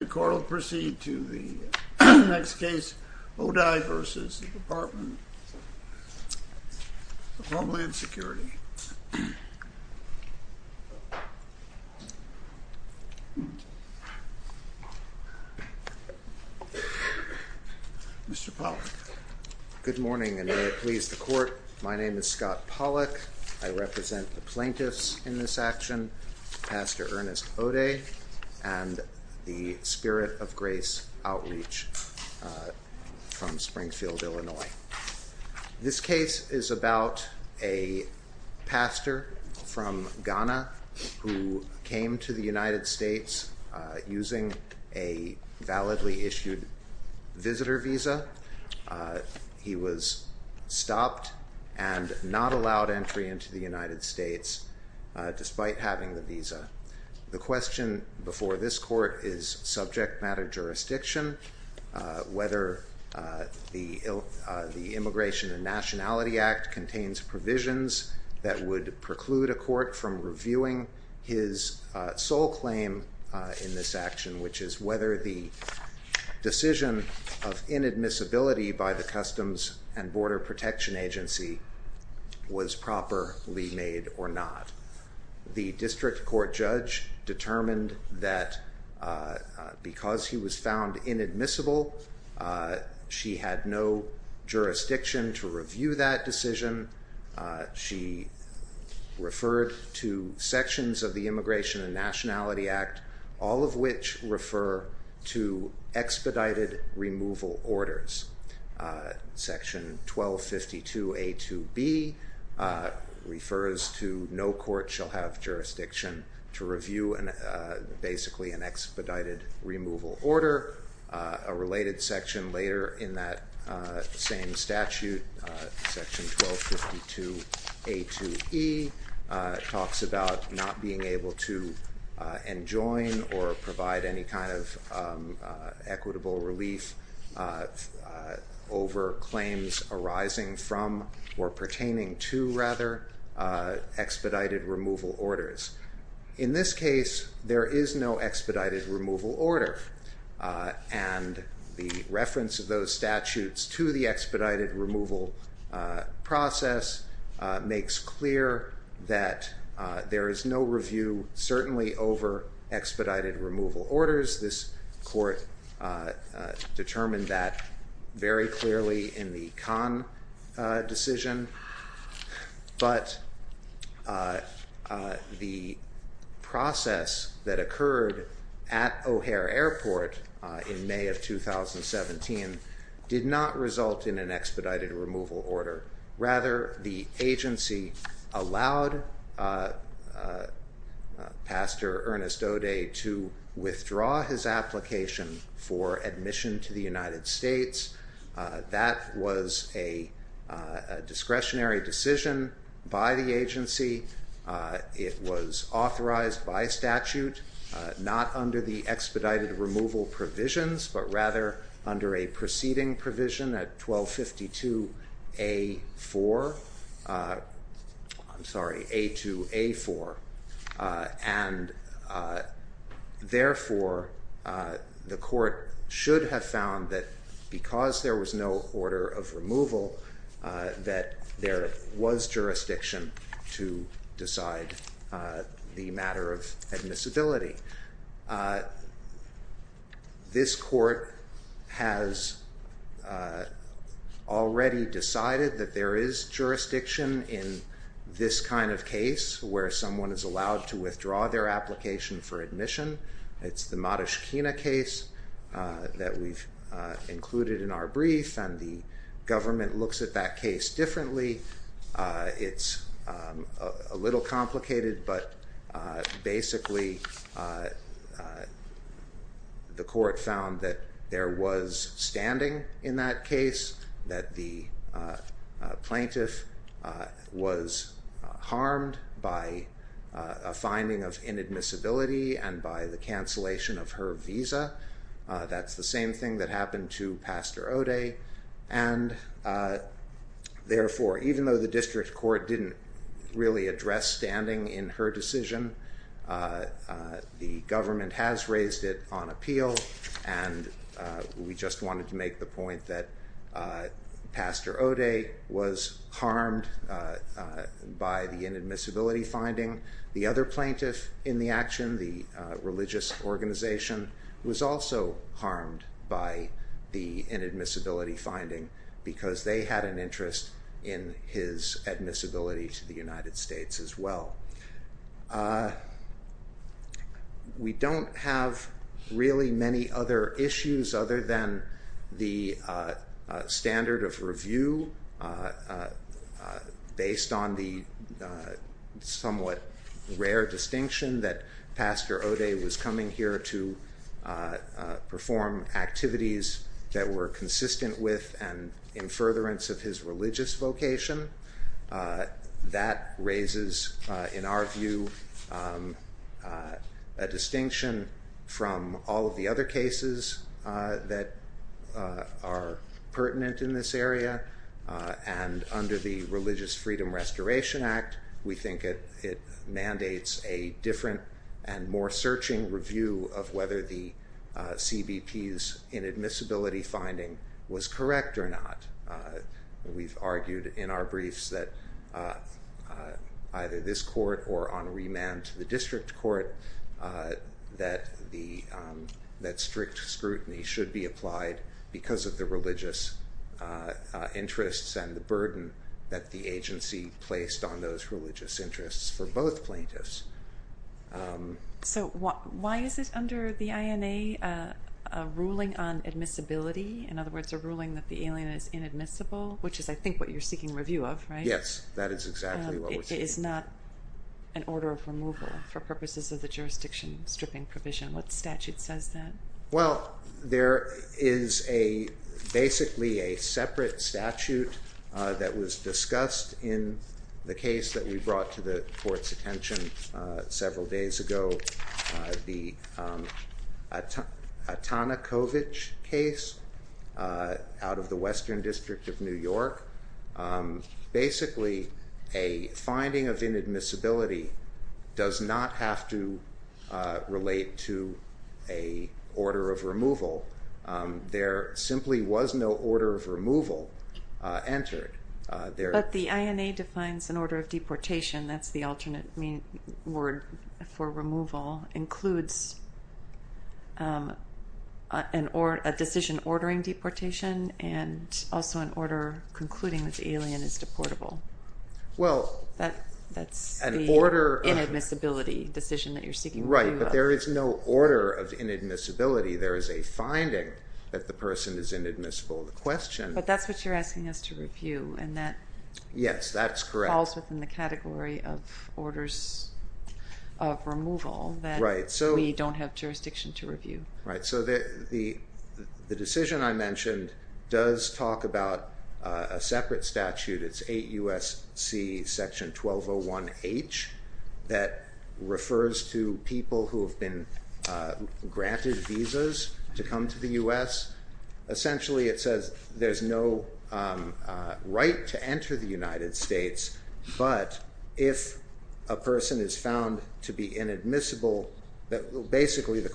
The court will proceed to the next case, Odei v. Department of Homeland Security. Mr. Pollack. Good morning, and may it please the court, my name is Scott Pollack. I represent the plaintiffs in this action, Pastor Ernest Odei, and the Spirit of Grace Outreach from Springfield, Illinois. This case is about a pastor from Ghana who came to the United States using a validly issued visitor visa. He was stopped and not allowed entry into the United States despite having the visa. The question before this court is subject matter jurisdiction, whether the Immigration and Nationality Act contains provisions that would preclude a court from reviewing his sole claim in this action, which is whether the decision of inadmissibility by the Customs and Border Protection Agency was properly made or not. The district court judge determined that because he was found inadmissible, she had no jurisdiction to review that decision. She referred to sections of the Immigration and Nationality Act, all of which refer to expedited removal orders. Section 1252A2B refers to no court shall have jurisdiction to review an expedited removal order. A related section later in that same statute, Section 1252A2E, talks about not being able to enjoin or provide any kind of equitable relief over claims arising from, or pertaining to, rather, expedited removal orders. In this case, there is no expedited removal order, and the reference of those statutes to the expedited removal process makes clear that there is no review, certainly over expedited removal orders. This court determined that very clearly in the Kahn decision. But the process that occurred at O'Hare Airport in May of 2017 did not result in an expedited removal order. Rather, the agency allowed Pastor Ernest O'Day to withdraw his application for admission to the United States. That was a discretionary decision by the agency. It was authorized by statute, not under the expedited removal provisions, but rather under a preceding provision at 1252A4, I'm sorry, A2A4. And therefore, the court should have found that because there was no order of removal, that there was jurisdiction to decide the matter of admissibility. This court has already decided that there is jurisdiction in this kind of case where someone is allowed to withdraw their application for admission. It's the Matushkina case that we've included in our brief, and the government looks at that case differently. It's a little complicated, but basically, the court found that there was standing in that case, that the plaintiff was harmed by a finding of inadmissibility and by the cancellation of her visa. That's the same thing that happened to Pastor O'Day. And therefore, even though the district court didn't really address standing in her decision, the government has raised it on appeal, and we just wanted to make the point that Pastor O'Day was harmed by the inadmissibility finding. The other plaintiff in the action, the religious organization, was also harmed by the inadmissibility finding because they had an interest in his admissibility to the United States as well. We don't have really many other issues other than the standard of review based on the somewhat rare distinction that Pastor O'Day was coming here to perform activities that were consistent with and in furtherance of his religious vocation. That raises, in our view, a distinction from all of the other cases that are pertinent in this area, and under the Religious Freedom Restoration Act, we think it mandates a different and more searching review of whether the CBP's inadmissibility finding was correct or not. We've argued in our briefs that either this court or on remand to the district court that strict scrutiny should be applied because of the religious interests and the burden that the agency placed on those religious interests for both plaintiffs. So why is it under the INA a ruling on admissibility, in other words a ruling that the alien is inadmissible, which is I think what you're seeking review of, right? Yes, that is exactly what we're seeking. It is not an order of removal for purposes of the jurisdiction stripping provision. What statute says that? Well, there is basically a separate statute that was discussed in the case that we brought to the court's attention several days ago, the Atanakovich case out of the Western District of New York. Basically a finding of inadmissibility does not have to relate to a order of removal. There simply was no order of removal entered. But the INA defines an order of deportation. That's the alternate word for removal. It includes a decision ordering deportation and also an order concluding that the alien is deportable. That's the inadmissibility decision that you're seeking review of. Right, but there is no order of inadmissibility. There is a finding that the person is inadmissible in the question. But that's what you're asking us to review. Yes, that's correct. It falls within the category of orders of removal that we don't have jurisdiction to review. Right, so the decision I mentioned does talk about a separate statute. It's 8 U.S.C. Section 1201H that refers to people who have been granted visas to come to the U.S. Essentially it says there's no right to enter the United States, but if a person is found to be inadmissible, basically the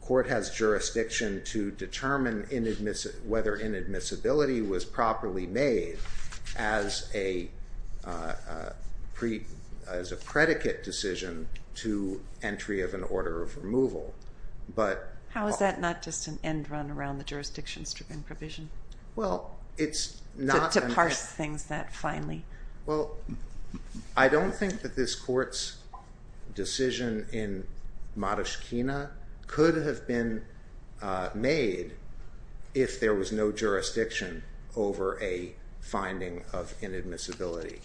court has jurisdiction to determine whether inadmissibility was properly made as a predicate decision to entry of an order of removal. How is that not just an end run around the jurisdiction-stripping provision? Well, it's not... To parse things that finely. Well, I don't think that this court's decision in Modishkina could have been made if there was no jurisdiction over a finding of inadmissibility.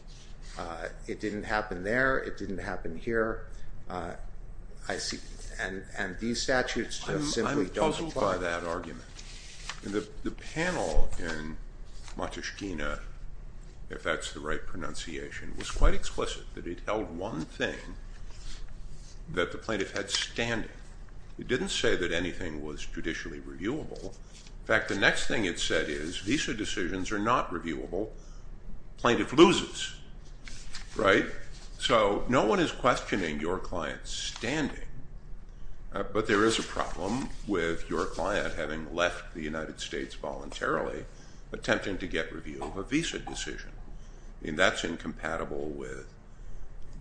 It didn't happen there. It didn't happen here. And these statutes simply don't apply. I'm puzzled by that argument. The panel in Modishkina, if that's the right pronunciation, was quite explicit that it held one thing that the plaintiff had standing. It didn't say that anything was judicially reviewable. In fact, the next thing it said is visa decisions are not reviewable. Plaintiff loses, right? So no one is questioning your client's standing, but there is a problem with your client having left the United States voluntarily, attempting to get review of a visa decision. I mean, that's incompatible with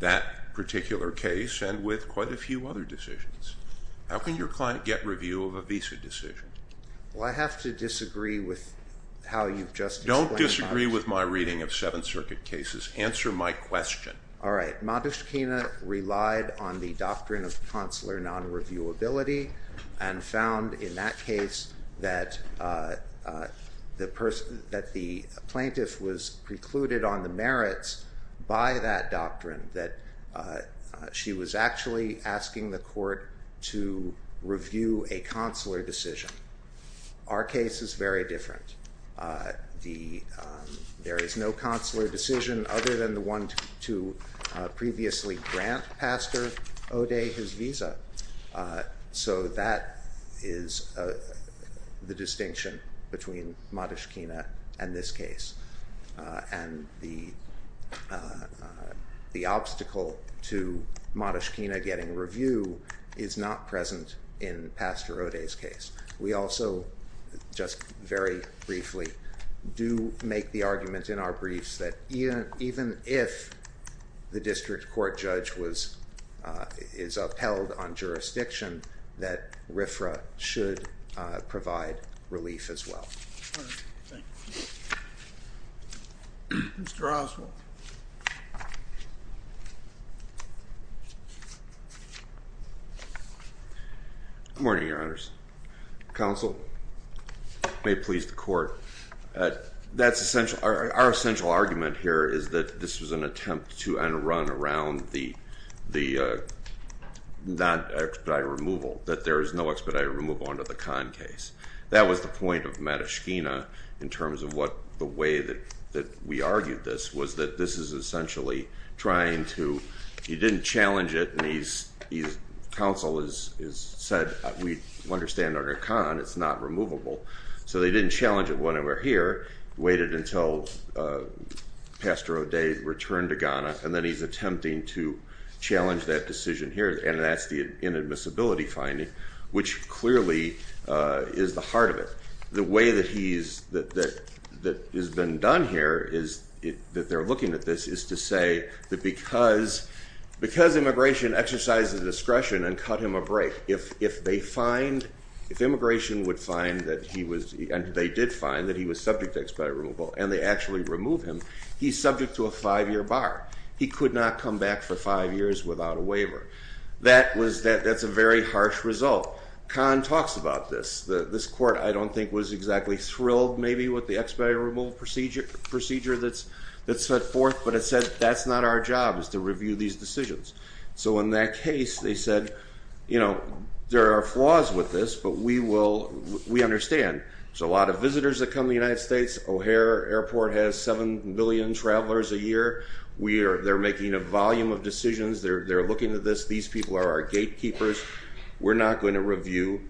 that particular case and with quite a few other decisions. How can your client get review of a visa decision? Well, I have to disagree with how you've just explained that. Don't disagree with my reading of Seventh Circuit cases. Answer my question. All right. Modishkina relied on the doctrine of consular non-reviewability and found in that case that the plaintiff was precluded on the merits by that doctrine, that she was actually asking the court to review a consular decision. Our case is very different. There is no consular decision other than the one to previously grant Pastor O'Day his visa. So that is the distinction between Modishkina and this case. And the obstacle to Modishkina getting review is not present in Pastor O'Day's case. We also just very briefly do make the argument in our briefs that even if the district court judge is upheld on jurisdiction, that RFRA should provide relief as well. All right. Thank you. Mr. Oswald. Good morning, Your Honors. Counsel, may it please the court. That's essential. Our essential argument here is that this was an attempt to run around the non-expedited removal, that there is no expedited removal under the Kahn case. That was the point of Modishkina in terms of what the way that we argued this was, that this is essentially trying to, he didn't challenge it, and he's, counsel has said we understand under Kahn it's not removable. So they didn't challenge it when they were here, waited until Pastor O'Day returned to Ghana, and then he's attempting to challenge that decision here, and that's the inadmissibility finding, which clearly is the heart of it. The way that he's, that has been done here is, that they're looking at this, is to say that because immigration exercises discretion and cut him a break, if they find, if immigration would find that he was, and they did find that he was subject to expedited removal, and they actually remove him, he's subject to a five-year bar. He could not come back for five years without a waiver. That was, that's a very harsh result. Kahn talks about this. This court I don't think was exactly thrilled maybe with the expedited removal procedure that's set forth, but it said that's not our job is to review these decisions. So in that case they said, you know, there are flaws with this, but we will, we understand. There's a lot of visitors that come to the United States. O'Hare Airport has 7 billion travelers a year. We are, they're making a volume of decisions. They're looking at this. These people are our gatekeepers. We're not going to review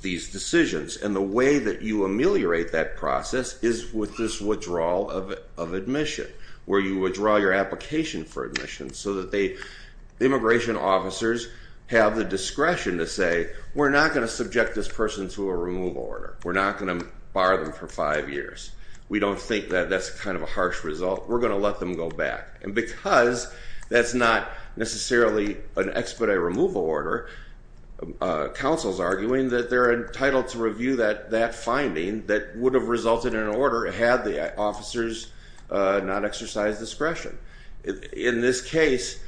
these decisions. And the way that you ameliorate that process is with this withdrawal of admission, where you withdraw your application for admission so that they, immigration officers have the discretion to say, we're not going to subject this person to a removal order. We're not going to bar them for five years. We don't think that that's kind of a harsh result. We're going to let them go back. And because that's not necessarily an expedited removal order, counsel's arguing that they're entitled to review that finding that would have resulted in an order had the officers not exercised discretion. In this case,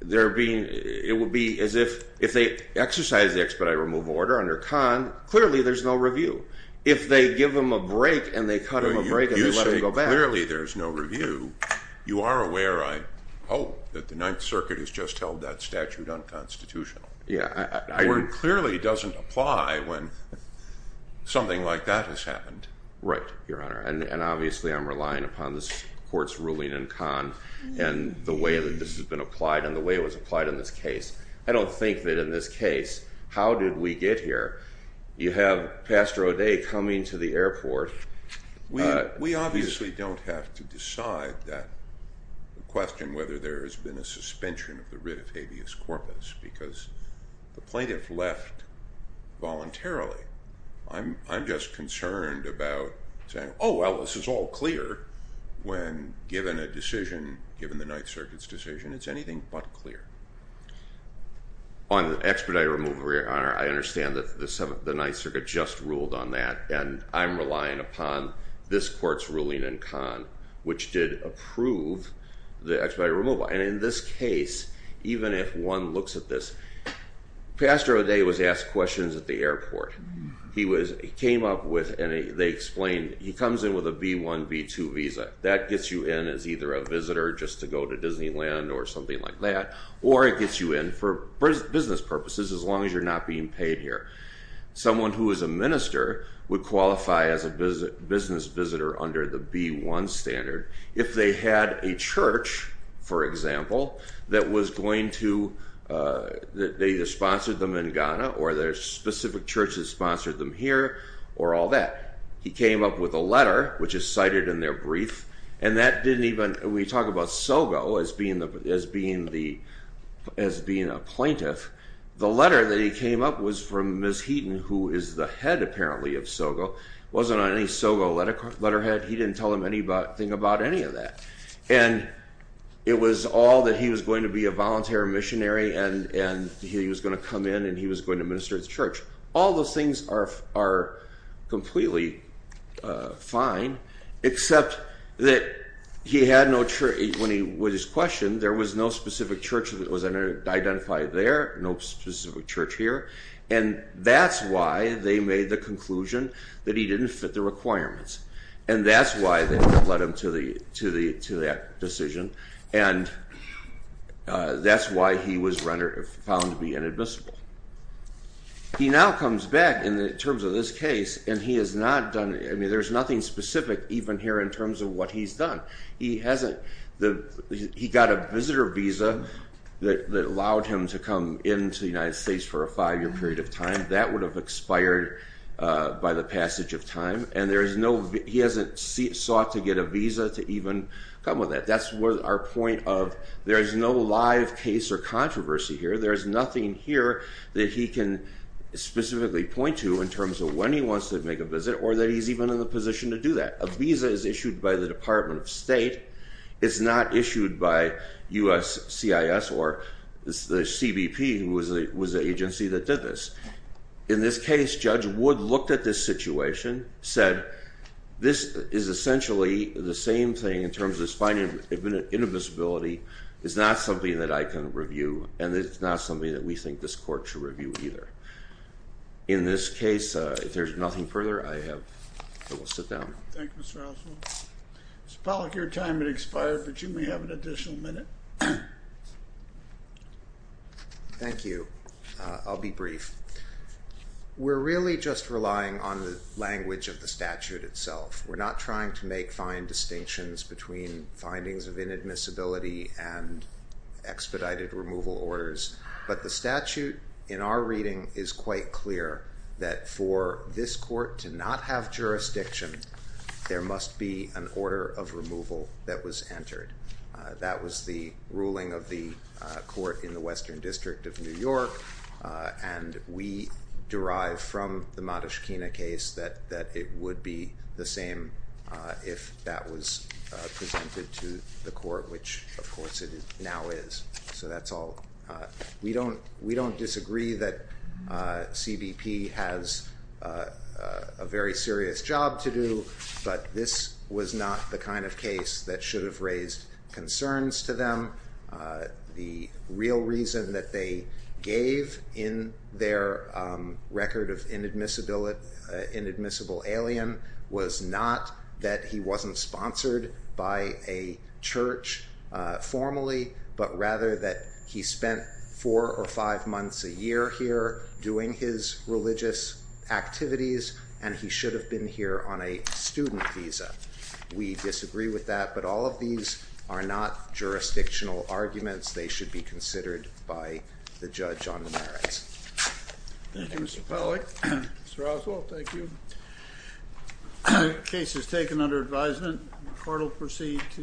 there being, it would be as if, if they exercised the expedited removal order under Conn, clearly there's no review. If they give them a break and they cut them a break and let them go back. Clearly there's no review. You are aware, I hope, that the Ninth Circuit has just held that statute unconstitutional. The word clearly doesn't apply when something like that has happened. Right, Your Honor. And obviously I'm relying upon this court's ruling in Conn and the way that this has been applied and the way it was applied in this case. I don't think that in this case, how did we get here? You have Pastor O'Day coming to the airport. We obviously don't have to decide that question, whether there has been a suspension of the writ of habeas corpus, because the plaintiff left voluntarily. I'm just concerned about saying, oh, well, this is all clear, when given a decision, given the Ninth Circuit's decision, it's anything but clear. On the expedited removal, Your Honor, I understand that the Ninth Circuit just ruled on that, and I'm relying upon this court's ruling in Conn, which did approve the expedited removal. And in this case, even if one looks at this, Pastor O'Day was asked questions at the airport. He came up with, and they explained, he comes in with a B-1, B-2 visa. That gets you in as either a visitor just to go to Disneyland or something like that, or it gets you in for business purposes, as long as you're not being paid here. Someone who is a minister would qualify as a business visitor under the B-1 standard. If they had a church, for example, that was going to, they sponsored them in Ghana, or there's a specific church that sponsored them here, or all that. He came up with a letter, which is cited in their brief, and that didn't even, we talk about Sogo as being a plaintiff. The letter that he came up was from Ms. Heaton, who is the head, apparently, of Sogo. Wasn't on any Sogo letterhead. He didn't tell them anything about any of that. And it was all that he was going to be a volunteer missionary and he was going to come in and he was going to minister at the church. All those things are completely fine, except that he had no church, when he was questioned, there was no specific church that was identified there, no specific church here, and that's why they made the conclusion that he didn't fit the requirements. And that's why they led him to that decision, and that's why he was found to be inadmissible. He now comes back, in terms of this case, and he has not done, I mean, there's nothing specific even here in terms of what he's done. He got a visitor visa that allowed him to come into the United States for a five-year period of time. That would have expired by the passage of time, and he hasn't sought to get a visa to even come with that. That's our point of there's no live case or controversy here. There's nothing here that he can specifically point to in terms of when he wants to make a visit or that he's even in the position to do that. A visa is issued by the Department of State. It's not issued by USCIS or the CBP, who was the agency that did this. In this case, Judge Wood looked at this situation, said this is essentially the same thing in terms of this finding of inadmissibility. It's not something that I can review, and it's not something that we think this court should review either. In this case, if there's nothing further, I will sit down. Thank you, Mr. Oswald. Mr. Pollack, your time has expired, but you may have an additional minute. Thank you. I'll be brief. We're really just relying on the language of the statute itself. We're not trying to make fine distinctions between findings of inadmissibility and expedited removal orders, but the statute in our reading is quite clear that for this court to not have jurisdiction, there must be an order of removal that was entered. That was the ruling of the court in the Western District of New York, and we derive from the Matushkina case that it would be the same if that was presented to the court, which, of course, it now is. So that's all. We don't disagree that CBP has a very serious job to do, but this was not the kind of case that should have raised concerns to them. The real reason that they gave in their record of inadmissible alien was not that he wasn't sponsored by a church formally, but rather that he spent four or five months a year here doing his religious activities, and he should have been here on a student visa. We disagree with that, but all of these are not jurisdictional arguments. They should be considered by the judge on the merits. Thank you, Mr. Pollack. Mr. Oswald, thank you. The case is taken under advisement. The court will proceed to adjournment.